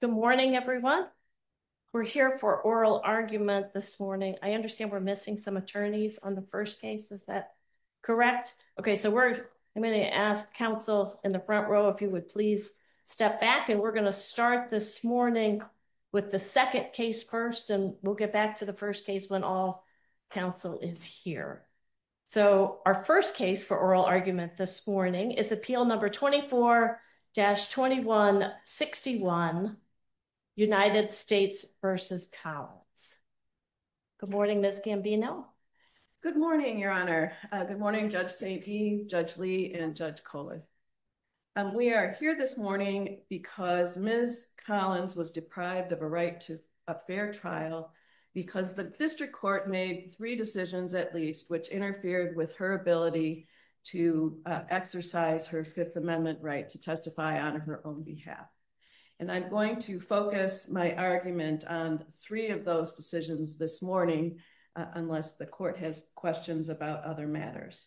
Good morning everyone. We're here for oral argument this morning. I understand we're missing some attorneys on the first case. Is that correct? Okay so we're I'm going to ask counsel in the front row if you would please step back and we're going to start this morning with the second case first and we'll get back to the first case when all counsel is here. So our first case for oral argument this morning is appeal number 24-2161 United States v. Collins. Good morning Ms. Gambino. Good morning Your Honor. Good morning Judge Steepe, Judge Lee, and Judge Cohen. We are here this morning because Ms. Collins was deprived of a right to a fair trial because the district court made three decisions at least which interfered with her ability to exercise her Fifth Amendment right to testify on her own behalf. And I'm going to focus my argument on three of those decisions this morning unless the court has questions about other matters.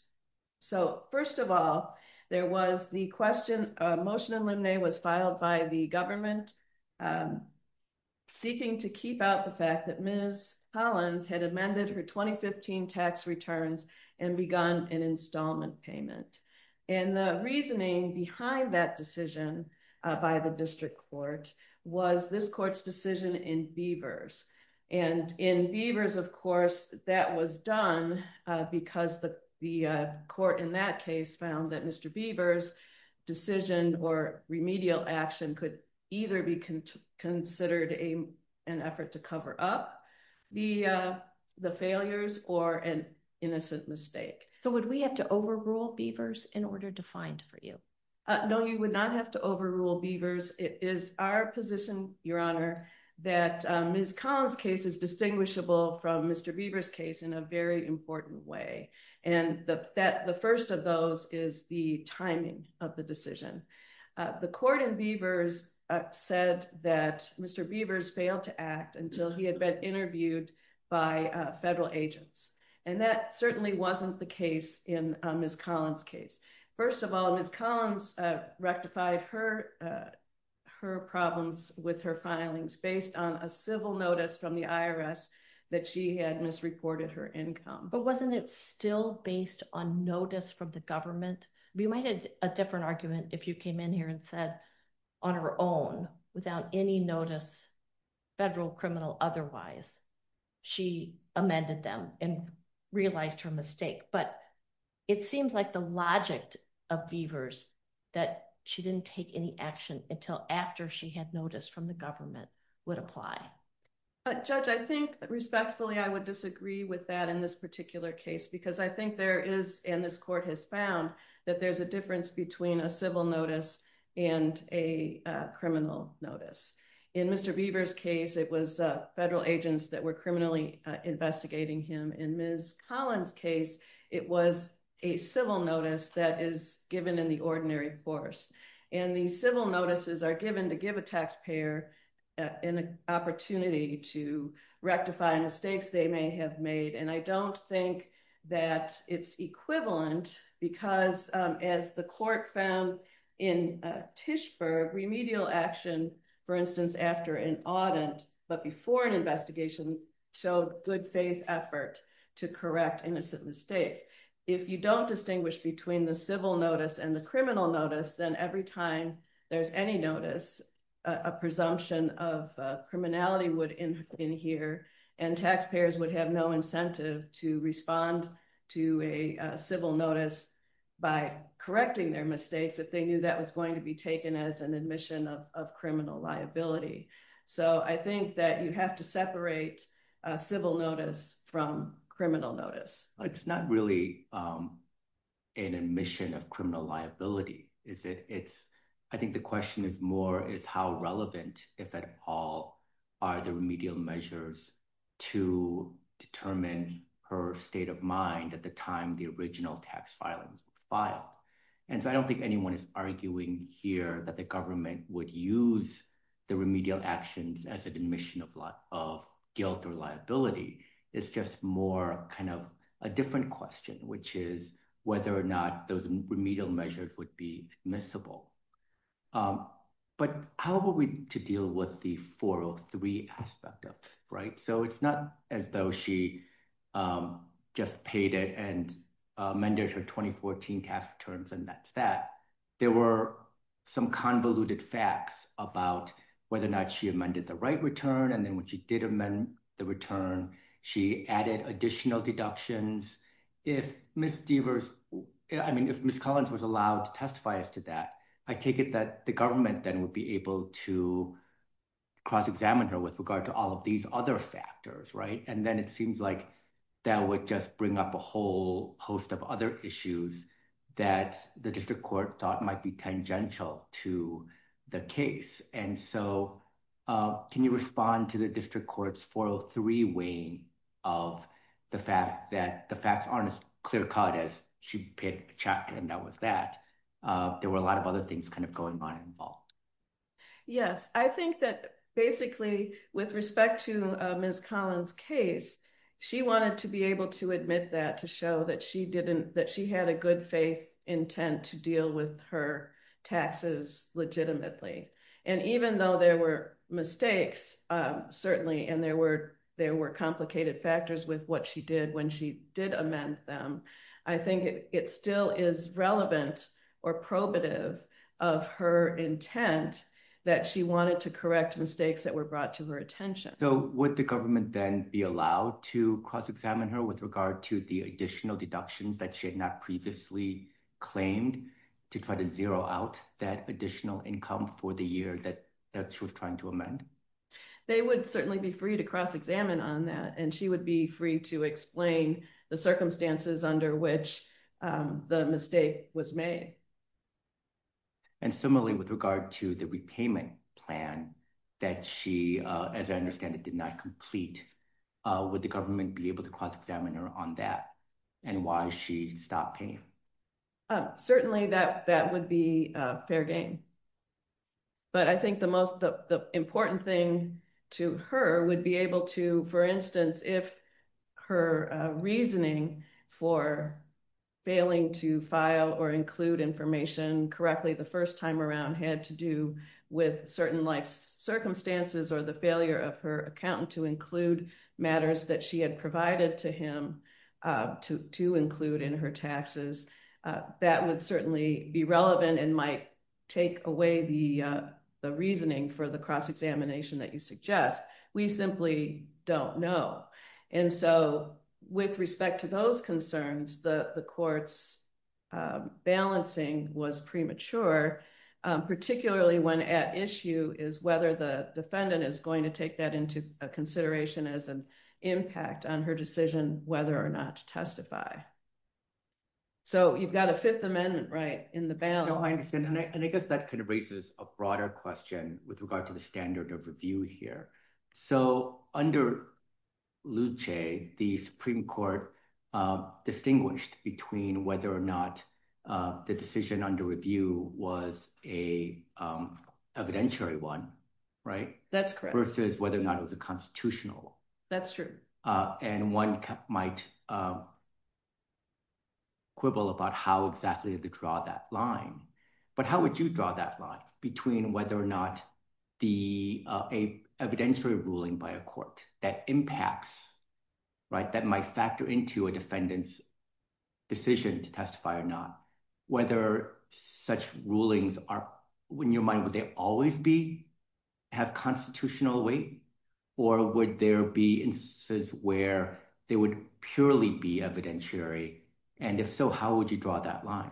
So first of all there was the question motion in limine was filed by the government seeking to keep out the fact that Ms. Collins had amended her 2015 tax returns and begun an installment payment. And the reasoning behind that decision by the district court was this court's decision in Beavers. And in Beavers of course that was done because the the court in that case found that Mr. Beavers decision or remedial action could either be considered a an effort to cover up the the failures or an innocent mistake. So would we have to overrule Beavers in order to find for you? No you would not have to overrule Beavers. It is our position Your Honor that Ms. Collins case is distinguishable from Mr. Beavers case in a very important way. And that the first of those is the timing of the decision. The court in Beavers said that Mr. Beavers failed to act until he had been interviewed by federal agents. And that certainly wasn't the case in Ms. Collins case. First of all Ms. Collins rectified her her problems with her filings based on a civil notice from the IRS that she had misreported her income. But wasn't it still based on notice from the government? We might have a different argument if you came in here and said on her own without any notice federal criminal otherwise she amended them and realized her mistake. But it seems like the logic of Beavers that she didn't take any action until after she had notice from the government would apply. But Judge I think respectfully I would disagree with that in this particular case because I think there is and this court has found that there's a difference between a civil notice and a criminal notice. In Mr. Beavers case it was federal agents that were criminally investigating him. In Ms. Collins case it was a civil notice that is given in the ordinary force. And these civil notices are given to give a taxpayer an opportunity to rectify mistakes they may have made. And I don't think that it's equivalent because as the court found in Tischberg remedial action for instance after an audit but before an investigation showed good faith effort to correct innocent mistakes. If you don't distinguish between the civil notice and the criminal notice then every time there's any notice a presumption of criminality would in here and taxpayers would have no incentive to respond to a civil notice by correcting their mistakes if they knew that was going to be taken as an admission of criminal liability. So I think that you have to separate civil notice from criminal notice. It's not really an admission of criminal liability is it it's I think the question is more is how relevant if at all are the remedial measures to determine her state of mind at the time the original tax filings filed. And so I don't think anyone is arguing here that the government would use the remedial actions as an admission of lot of guilt or liability. It's just more kind of a different question which is whether or not those remedial measures would be admissible. But how are we to deal with the 403 aspect of it right. So it's not as though she just paid it and amended her 2014 tax returns and that's that. There were some convoluted facts about whether or not she amended the right return and then when she did amend the return she added additional deductions. If Ms. Deavers I mean if Ms. Collins was allowed to testify as to that I take it that the government then would be able to cross-examine her with regard to all of these other factors right. And then it seems like that would just bring up a whole host of other issues that the district court thought might be tangential to the case. And so can you respond to the district court's 403 weighing of the fact that the facts aren't as clear-cut as she paid a check and that was that. There were a lot of other things kind of going on involved. Yes I think that basically with respect to Ms. Collins case she wanted to be able to admit that to show that she didn't that she had a good faith intent to deal with her taxes legitimately. And even though there were mistakes certainly and there were there were complicated factors with what she did when she did amend them I think it still is relevant or probative of her intent that she wanted to correct mistakes that were brought to her attention. So would the government then be allowed to cross-examine her with regard to the additional deductions that she had not previously claimed to try to zero out that additional income for the year that that she was trying to amend? They would certainly be free to cross-examine on that and she would be free to explain the circumstances under which the mistake was made. And similarly with regard to the repayment plan that she as I understand it did not complete would the government be able to cross-examine her on that and why she stopped paying? Certainly that that would be fair game. But I think the most the important thing to her would be able to for instance if her reasoning for failing to file or include information correctly the first time around had to do with certain life circumstances or the failure of her accountant to include matters that she had provided to him to include in her taxes that would certainly be relevant and might take away the the reasoning for the cross-examination that you suggest. We simply don't know and so with respect to those concerns the the court's balancing was premature particularly when at issue is whether the defendant is going to take that into a consideration as an impact on her decision whether or not to testify. So you've got a Fifth Amendment right in the balance. I understand and I guess that kind of raises a broader question with regard to the standard of review here. So under Luce the Supreme Court distinguished between whether or not the decision under review was a evidentiary one right? That's correct. Versus whether or not it was a constitutional. That's true. And one might quibble about how exactly to draw that line but how would you draw that line between whether or not the evidentiary ruling by a court that impacts right that might factor into a defendant's decision to testify or not whether such rulings are when your mind would they always be have constitutional weight or would there be instances where they would purely be evidentiary and if so how would you draw that line?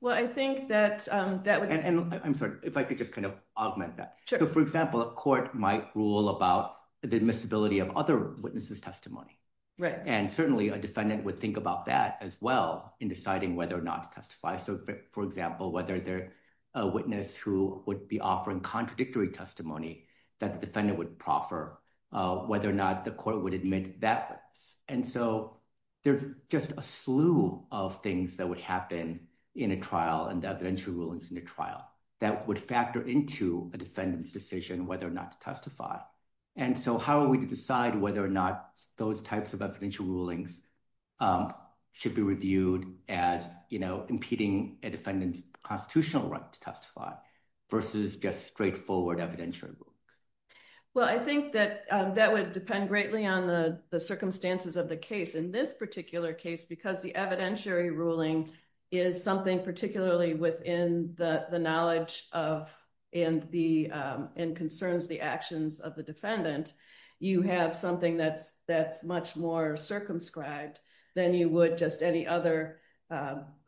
Well I think that and I'm sorry if I could just kind of augment that. So for example a court might rule about the admissibility of other witnesses testimony right and certainly a defendant would think about that as well in deciding whether or not to testify so for example whether they're a witness who would be offering contradictory testimony that the defendant would proffer whether or not the court would admit that and so there's just a slew of things that would happen in a trial and evidentiary rulings in the trial that would factor into a defendant's decision whether or not to testify and so how are we to decide whether or not those types of evidential rulings should be reviewed as you know impeding a defendant's constitutional right to testify versus just straightforward evidentiary rulings. Well I think that that would depend greatly on the circumstances of the case in this particular case because the evidentiary ruling is something particularly within the knowledge of and the and concerns the actions of the defendant you have something that's that's much more circumscribed than you would just any other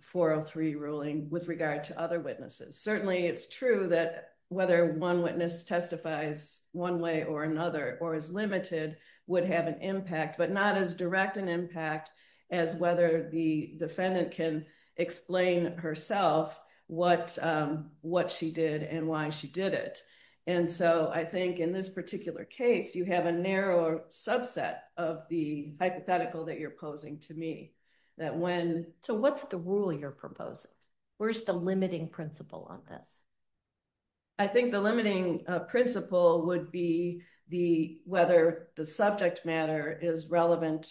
403 ruling with regard to other witnesses certainly it's true that whether one witness testifies one way or another or is limited would have an impact but not as direct an impact as whether the defendant can explain herself what what she did and why she did it and so I think in this particular case you have a narrower subset of the hypothetical that you're proposing to me that when. So what's the rule you're proposing? Where's the limiting principle on this? I think the limiting principle would be the whether the subject matter is relevant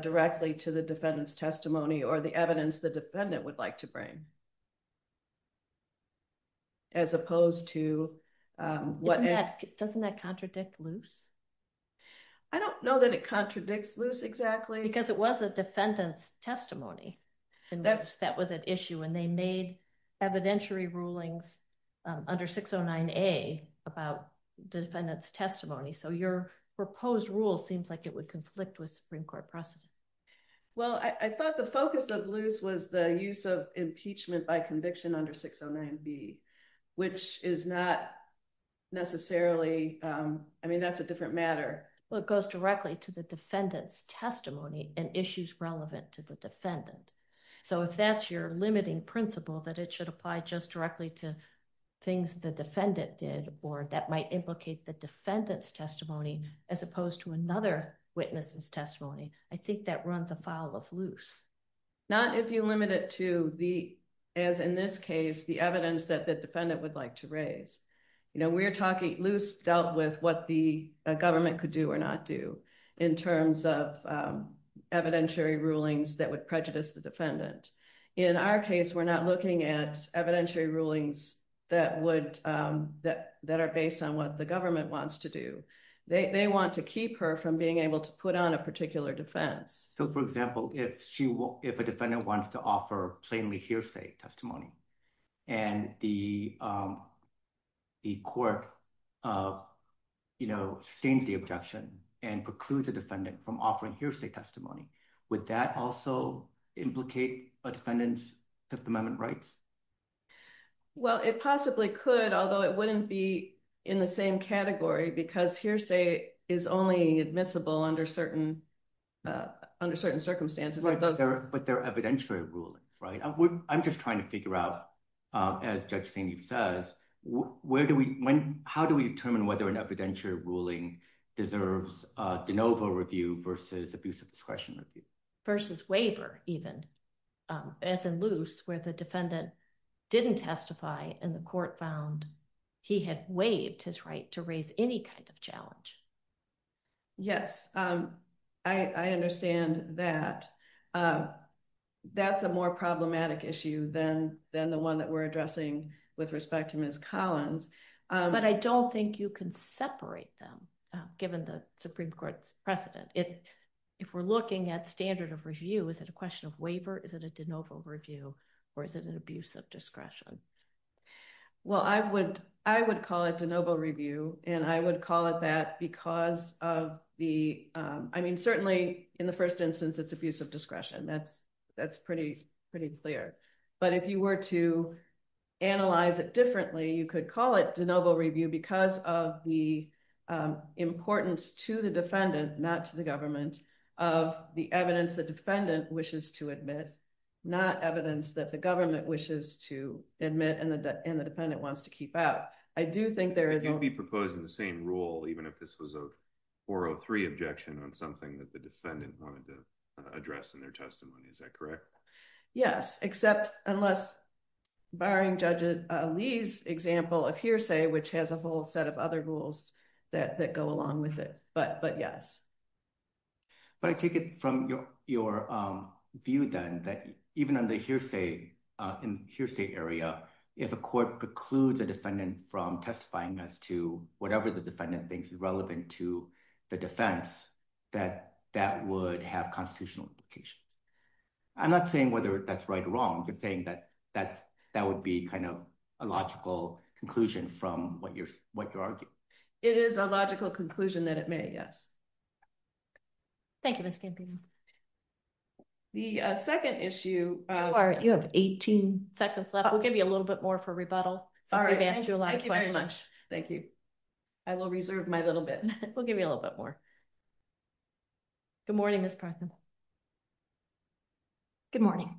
directly to the defendant's testimony or the evidence the defendant would like to bring as opposed to what. Doesn't that contradict Luce? I don't know that it contradicts Luce exactly. Because it was a defendant's testimony and that's that was an issue and they made evidentiary rulings under 609 A about the defendant's testimony so your proposed rule seems like it would conflict with Supreme Court precedent. Well I thought the focus of Luce was the use of impeachment by conviction under 609 B which is not necessarily I mean that's a different matter. Well it goes directly to the defendant's testimony and issues relevant to the defendant so if that's your limiting principle that it should apply just directly to things the defendant did or that might implicate the defendant's testimony as opposed to another witness's testimony I think that runs afoul of Luce. Not if you limit it to the as in this case the evidence that the defendant would like to raise. You know we're talking Luce dealt with what the government could do or not do in terms of evidentiary rulings that would prejudice the defendant. In our case we're not looking at evidentiary rulings that would that that are based on what the government wants to do. They want to keep her from being able to put on a particular defense. So for example if she will if a defendant wants to offer plainly hearsay testimony and the court you know sustains the objection and precludes a defendant from offering hearsay testimony would that also implicate a defendant's Fifth Amendment rights? Well it possibly could although it wouldn't be in the same category because hearsay is only admissible under certain circumstances. But they're evidentiary rulings right? I'm just trying to figure out as Judge Saini says where do we when how do we determine whether an evidentiary ruling deserves de novo review versus abusive discretion review? Versus waiver even as in Luce where the defendant didn't testify and the court found he had waived his right to raise any kind of charge. Yes I understand that. That's a more problematic issue than than the one that we're addressing with respect to Ms. Collins. But I don't think you can separate them given the Supreme Court's precedent. If if we're looking at standard of review is it a question of waiver is it a de novo review or is it an abusive discretion? Well I would I would call it de novo review and I would call it that because of the I mean certainly in the first instance it's a piece of discretion that's that's pretty pretty clear. But if you were to analyze it differently you could call it de novo review because of the importance to the defendant not to the government of the evidence the defendant wishes to admit not evidence that the government wishes to admit and that and the defendant wants to keep out. I do think there is. It could be proposed in the same rule even if this was a 403 objection on something that the defendant wanted to address in their testimony is that correct? Yes except unless barring Judge Lee's example of hearsay which has a whole set of other rules that that go along with it but but yes. But I take it from your your view then that even under hearsay in hearsay area if a court precludes a defendant from testifying as to whatever the defendant thinks is relevant to the defense that that would have constitutional implications. I'm not saying whether that's right or wrong you're saying that that that would be kind of a logical conclusion from what you're what you're arguing. It is a logical conclusion that it may yes. Thank you. I will reserve my little bit. We'll give you a little bit more. Good morning Miss Partham. Good morning.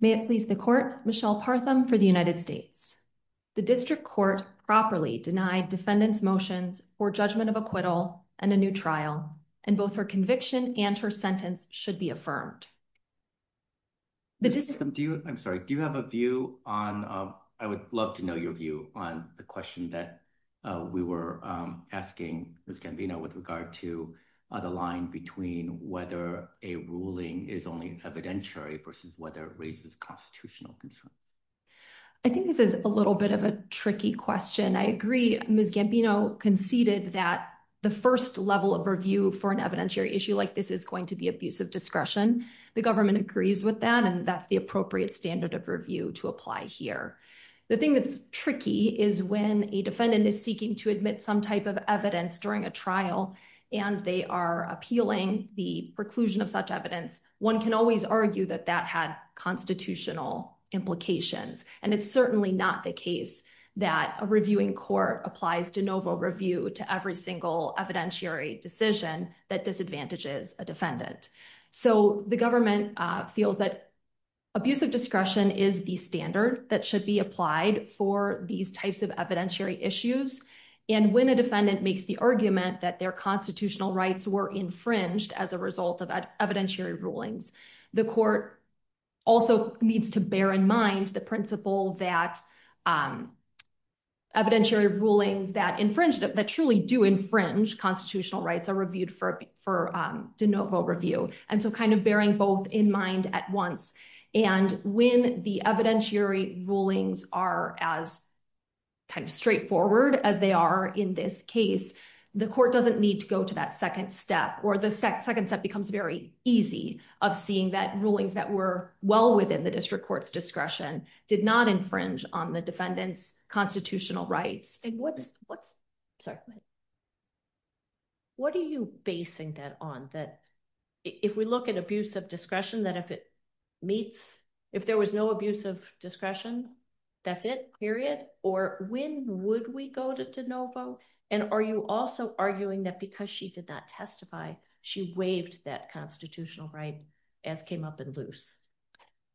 May it please the court Michelle Partham for the United States. The district court properly denied defendants motions for judgment of acquittal and a new trial and both her conviction and her sentence should be affirmed. The district. I'm sorry do you have a view on I would love to know your view on the question that we were asking Ms. Gambino with regard to the line between whether a ruling is only evidentiary versus whether it raises constitutional concerns. I think this is a little bit of a tricky question. I agree Ms. Gambino conceded that the first level of review for an evidentiary issue like this is going to be abusive discretion. The government agrees with that and that's the appropriate standard of review to apply here. The thing that's tricky is when a defendant is seeking to admit some type of evidence during a trial and they are appealing the preclusion of such evidence. One can always argue that that had constitutional implications and it's certainly not the case that a reviewing court applies de novo review to every single evidentiary decision that disadvantages a defendant. So the government feels that abusive discretion is the standard that should be applied for these types of evidentiary issues and when a defendant makes the argument that their constitutional rights were infringed as a result of evidentiary rulings. The rulings that infringed that truly do infringe constitutional rights are reviewed for for de novo review and so kind of bearing both in mind at once and when the evidentiary rulings are as kind of straightforward as they are in this case, the court doesn't need to go to that second step or the second step becomes very easy of seeing that rulings that were well within the district court's discretion did not infringe on the defendants constitutional rights. And what's what's sorry, what are you basing that on? That if we look at abuse of discretion, that if it meets, if there was no abuse of discretion, that's it period. Or when would we go to de novo? And are you also arguing that because she did not testify, she waived that constitutional right as came up and loose.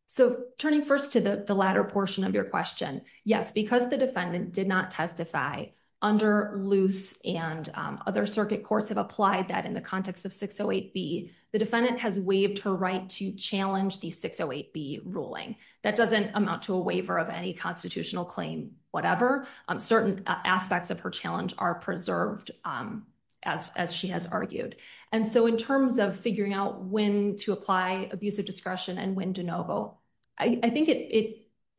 So turning first to the latter portion of your question. Yes, because the defendant did not testify under loose and other circuit courts have applied that in the context of 608 B, the defendant has waived her right to challenge the 608 B ruling that doesn't amount to a waiver of any constitutional claim, whatever certain aspects of her challenge are preserved, as she has argued. And so in terms of figuring out when to apply abuse of discretion and when de novo, I think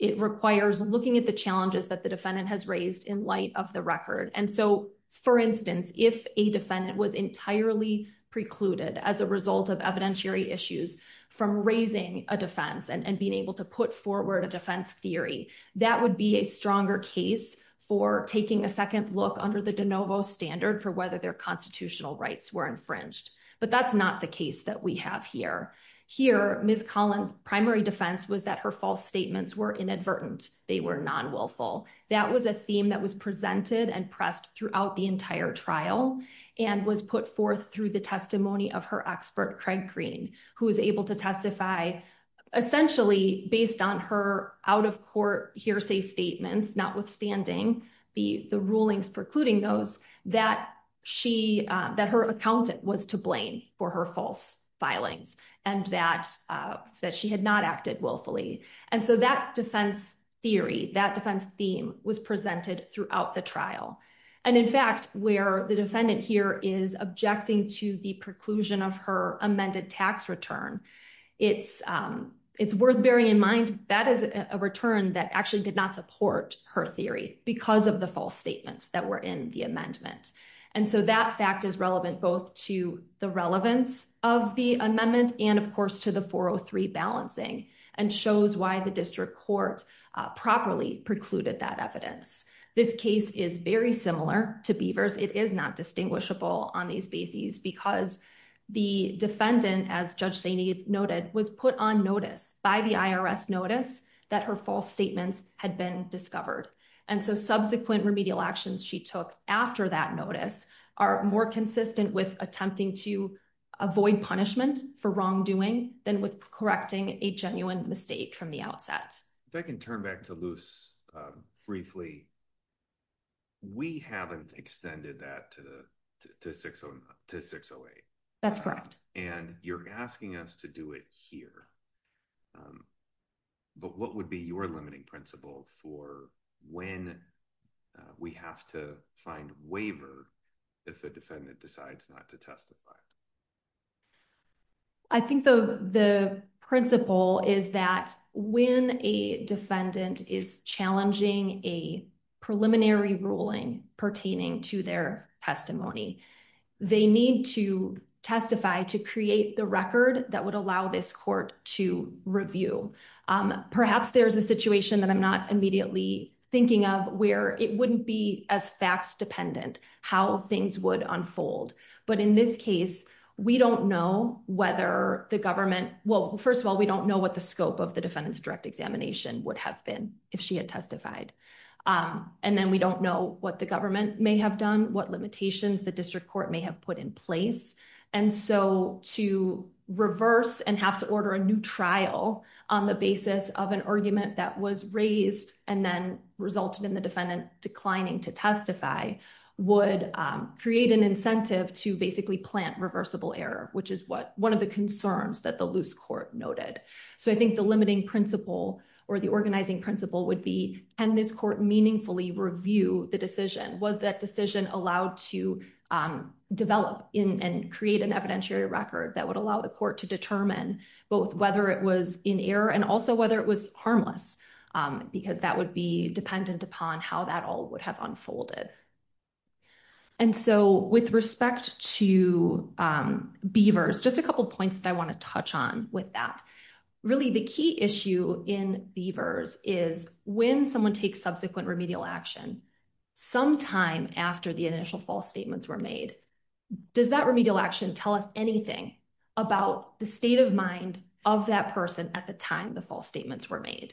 it requires looking at the challenges that the defendant has raised in light of the record. And so for instance, if a defendant was entirely precluded as a result of evidentiary issues, from raising a defense and being able to put forward a defense theory, that would be a stronger case for taking a second look under the de novo standard for whether their constitutional rights were infringed. But that's not the case that we have here. Here, Miss Collins primary defense was that her false statements were inadvertent, they were non willful. That was a theme that was presented and pressed throughout the entire trial, and was put forth through the testimony of her expert Craig Green, who was able to testify, essentially based on her out of court hearsay statements, notwithstanding the the rulings precluding those that she that her accountant was to blame for her false filings, and that that she had not acted willfully. And so that defense theory, that defense theme was presented throughout the trial. And in fact, where the defendant here is objecting to the preclusion of her amended tax return, it's, it's worth bearing in mind, that is a return that actually did not support her theory because of the false statements that were in the amendment. And so that fact is relevant both to the relevance of the amendment, and of course, to the 403 balancing and shows why the district court properly precluded that evidence. This case is very similar to Beavers, it is not distinguishable on these bases, because the defendant, as Judge Saini noted, was put on notice by the IRS notice that her false statements had been discovered. And so subsequent remedial actions she took after that notice, are more consistent with attempting to avoid punishment for wrongdoing than with correcting a genuine mistake from the outset. If I can turn back to Luz, briefly, we haven't extended that to the to 608. That's correct. And you're asking us to do it here. But what would be your limiting principle for when we have to find waiver, if a defendant decides not to testify? I think the the principle is that when a defendant is challenging a preliminary ruling pertaining to their testimony, they need to testify to create the record that would allow this court to review. Perhaps there's a situation that I'm not immediately thinking of where it wouldn't be as fact dependent how things would unfold. But in this case, we don't know whether the government well, first of all, we don't know what the scope of the defendant's direct examination would have been if she had testified. And then we don't know what the government may have done, what limitations the district court may have put in place. And so to reverse and have to order a new trial on the basis of an argument that was raised and then resulted in the defendant declining to testify would create an incentive to basically plant reversible error, which is what one of the concerns that the loose court noted. So I think the limiting principle or the organizing principle would be, can this court meaningfully review the decision? Was that decision allowed to develop and create an evidentiary record that would allow the court to determine both whether it was in error and also whether it was harmless, because that would be dependent upon how that all would have unfolded. And so with respect to Beavers, just a couple points that I want to touch on with that. Really, the key issue in Beavers is when someone takes subsequent remedial action, sometime after the initial false statements were made. Does that remedial action tell us anything about the state of mind of that person at the time the false statements were made?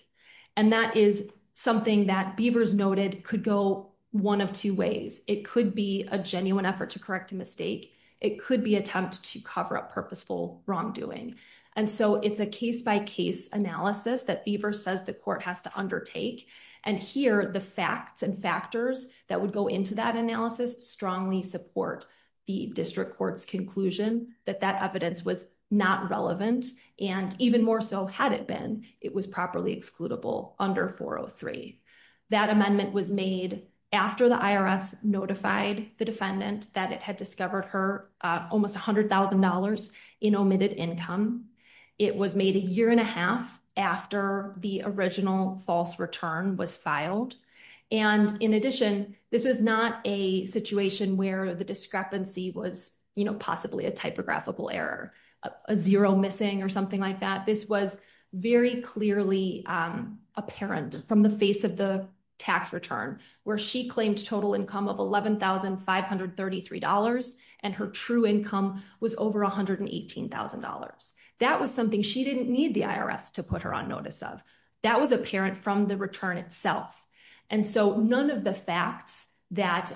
And that is something that Beavers noted could go one of two ways. It could be a genuine effort to correct a mistake. It could be attempt to cover up purposeful wrongdoing. And so it's a case by case analysis that Beavers says the court has to undertake. And here the facts and factors that would go into that analysis strongly support the district court's conclusion that that evidence was not relevant. And even more so had it been it was properly excludable under 403. That amendment was made after the IRS notified the defendant that it had discovered her almost $100,000 in omitted income. It was made a year and a half after the original false return was filed. And in addition, this was not a situation where the discrepancy was, you know, possibly a typographical error, a zero missing or like that. This was very clearly apparent from the face of the tax return, where she claimed total income of $11,533. And her true income was over $118,000. That was something she didn't need the IRS to put her on notice of that was apparent from the return itself. And so none of the facts that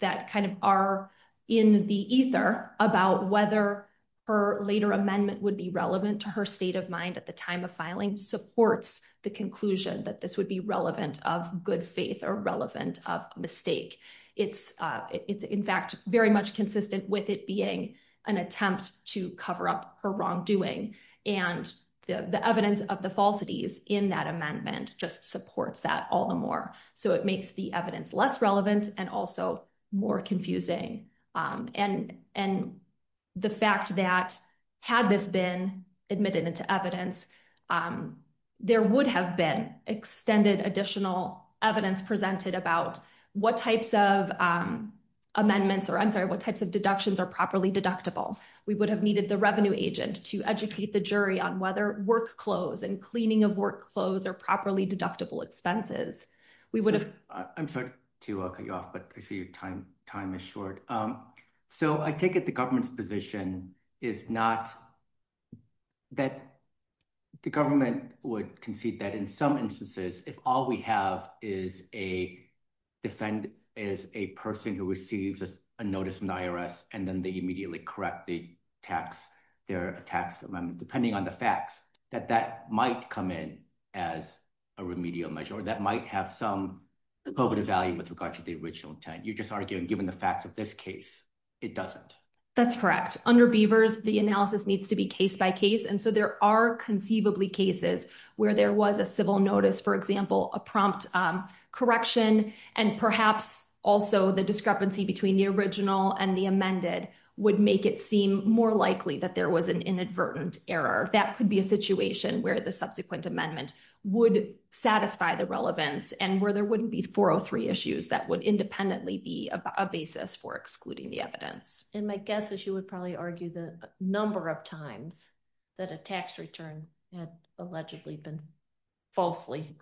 that kind of are in the ether about whether her later amendment would be relevant to her state of mind at the time of filing supports the conclusion that this would be relevant of good faith or relevant of mistake. It's, it's in fact, very much consistent with it being an attempt to cover up her wrongdoing. And the evidence of the falsities in that amendment just supports that all the more. So it makes the evidence less relevant and also more confusing. And, and the fact that had this been admitted into evidence, there would have been extended additional evidence presented about what types of amendments or I'm sorry, what types of deductions are properly deductible, we would have needed the revenue agent to educate the jury on whether work clothes and cleaning of work clothes are properly deductible expenses, we would have I'm sorry to cut you off, but I see your time, time is short. So I take it the government's position is not that the government would concede that in some instances, if all we have is a defendant is a person who receives a notice from the IRS, and then they immediately correct the tax, their tax amendment, depending on the facts that that might come in as a remedial measure, that might have some probative value with regard to the original intent, you're just arguing given the facts of this case, it doesn't. That's correct. Under Beavers, the analysis needs to be case by case. And so there are conceivably cases where there was a civil notice, for example, a prompt correction, and perhaps also the discrepancy between the original and the amended would make it seem more likely that there was an inadvertent error, that could be a situation where the subsequent amendment would satisfy the relevance and where there wouldn't be 403 issues that would independently be a basis for excluding the evidence. And my guess is you would probably argue the number of times that a tax return had allegedly been falsely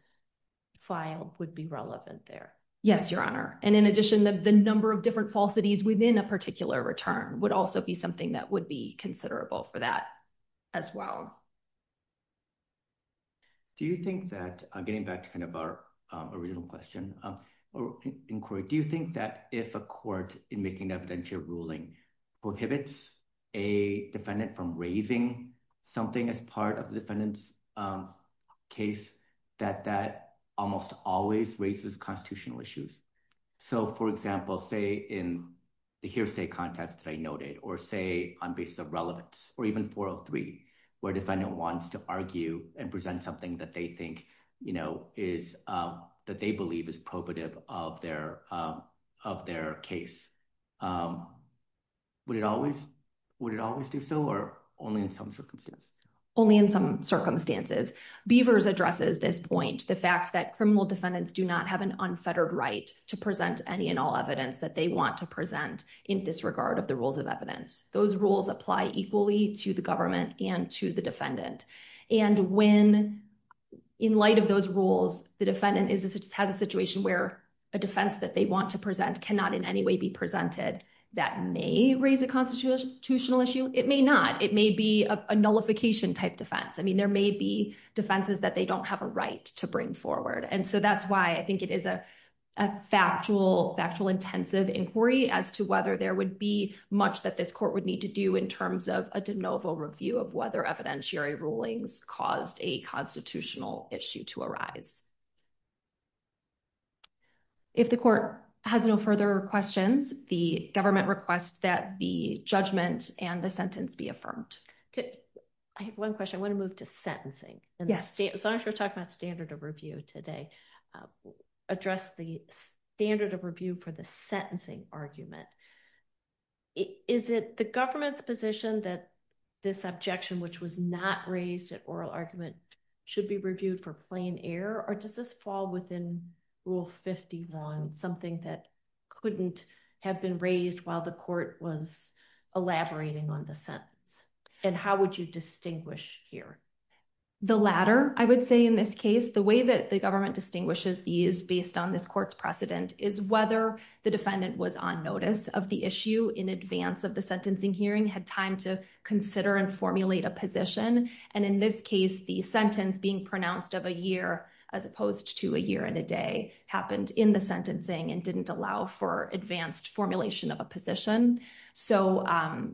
filed would be relevant there. Yes, Your Honor. And in addition, the number of different falsities within a particular return would also be something that would be considerable for that as well. Do you think that getting back to kind of our original question or inquiry, do you think that if a court in making evidential ruling prohibits a defendant from raising something as part of the defendant's case, that that almost always raises constitutional issues? So, for example, say in the hearsay context that I noted or say on basis of relevance or even 403, where a defendant wants to argue and present something that they think, you know, is that they believe is probative of their of their case. Would it always would it always do so or only in some circumstances? Only in some circumstances. Beavers addresses this point, the fact that criminal defendants do not have an unfettered right to present any and all evidence that they want to present in disregard of the rules of evidence. Those rules apply equally to the government and to the defendant. And when in light of those rules, the defendant has a situation where a defense that they want to present cannot in any way be presented that may raise a constitutional issue. It may not. It may be a nullification type defense. I mean, there may be defenses that they don't have a right to bring forward. And so that's why I think it is a factual, factual, intensive inquiry as to whether there would be much that this court would need to do in terms of a de novo review of whether evidentiary rulings caused a constitutional issue to arise. If the court has no further questions, the government requests that the judgment and the sentence be affirmed. I have one question. I want to move to sentencing. And as long as we're talking about standard of review today, address the standard of review for the sentencing argument. Is it the government's position that this objection, which was not raised at oral argument, should be reviewed for plain error? Or does this fall within Rule 51, something that couldn't have been raised while the court was elaborating on the sentence? And how would you distinguish here? The latter, I would say in this case, the way that the government distinguishes these based on this court's precedent is whether the defendant was on notice of the issue in advance of the sentencing hearing, had time to consider and formulate a position. And in this case, the sentence being pronounced of a year as opposed to a year and a day happened in the sentencing and didn't allow for advanced formulation of a position. So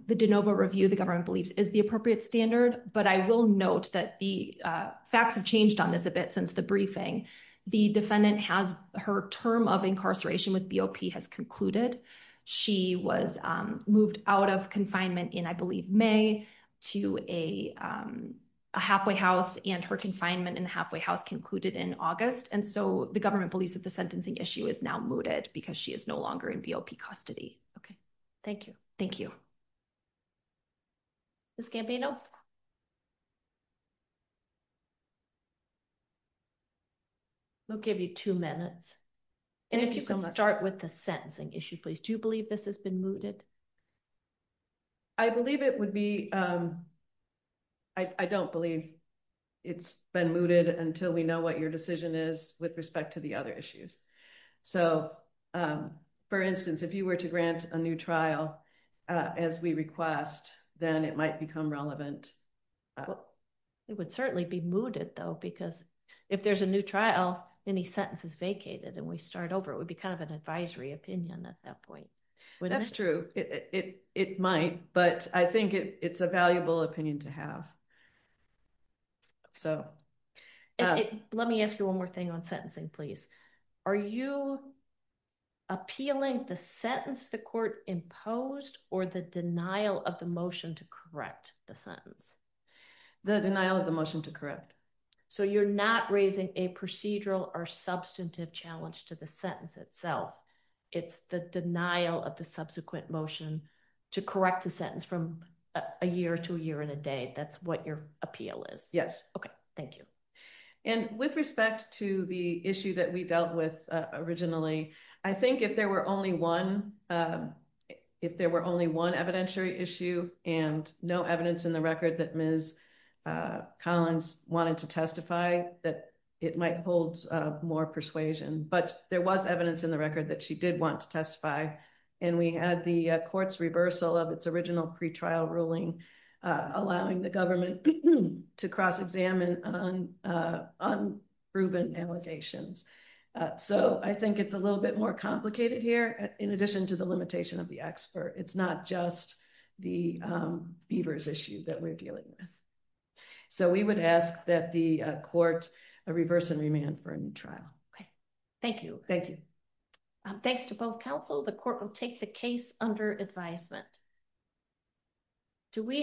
the de novo review, the government believes, is the appropriate standard. But I will note that the facts have changed on this a bit since the briefing. The defendant has her term of incarceration with BOP has concluded. She was moved out of confinement in, I believe, May to a halfway house. And her confinement in the halfway house concluded in August. And so the government believes that the sentencing issue is now mooted because she is no longer in BOP custody. OK, thank you. Ms. Campino. We'll give you two minutes and if you can start with the sentencing issue, please, do you believe this has been mooted? I believe it would be. I don't believe it's been mooted until we know what your decision is with respect to the other issues. So, for instance, if you were to grant a new trial as we request, then it might become relevant. It would certainly be mooted, though, because if there's a new trial, any sentence is vacated and we start over, it would be kind of an advisory opinion at that point. That's true. It might, but I think it's a valuable opinion to have. So let me ask you one more thing on sentencing, please. Are you appealing the sentence the court imposed or the denial of the motion to correct the sentence? The denial of the motion to correct. So you're not raising a procedural or substantive challenge to the sentence itself. It's the denial of the subsequent motion to correct the sentence from a year to a year and a day. That's what your appeal is. Yes. OK, thank you. And with respect to the issue that we dealt with originally, I think if there were only one, if there were only one evidentiary issue and no evidence in the record that Ms. Collins wanted to testify, that it might hold more persuasion. But there was evidence in the record that she did want to testify. And we had the court's reversal of its original pretrial ruling, allowing the government to cross-examine on unproven allegations. So I think it's a little bit more complicated here. In addition to the limitation of the expert, it's not just the Beavers issue that we're dealing with. So we would ask that the court reverse and remand for a new trial. OK, thank you. Thank you. Thanks to both counsel. The court will take the case under advisement. Do we.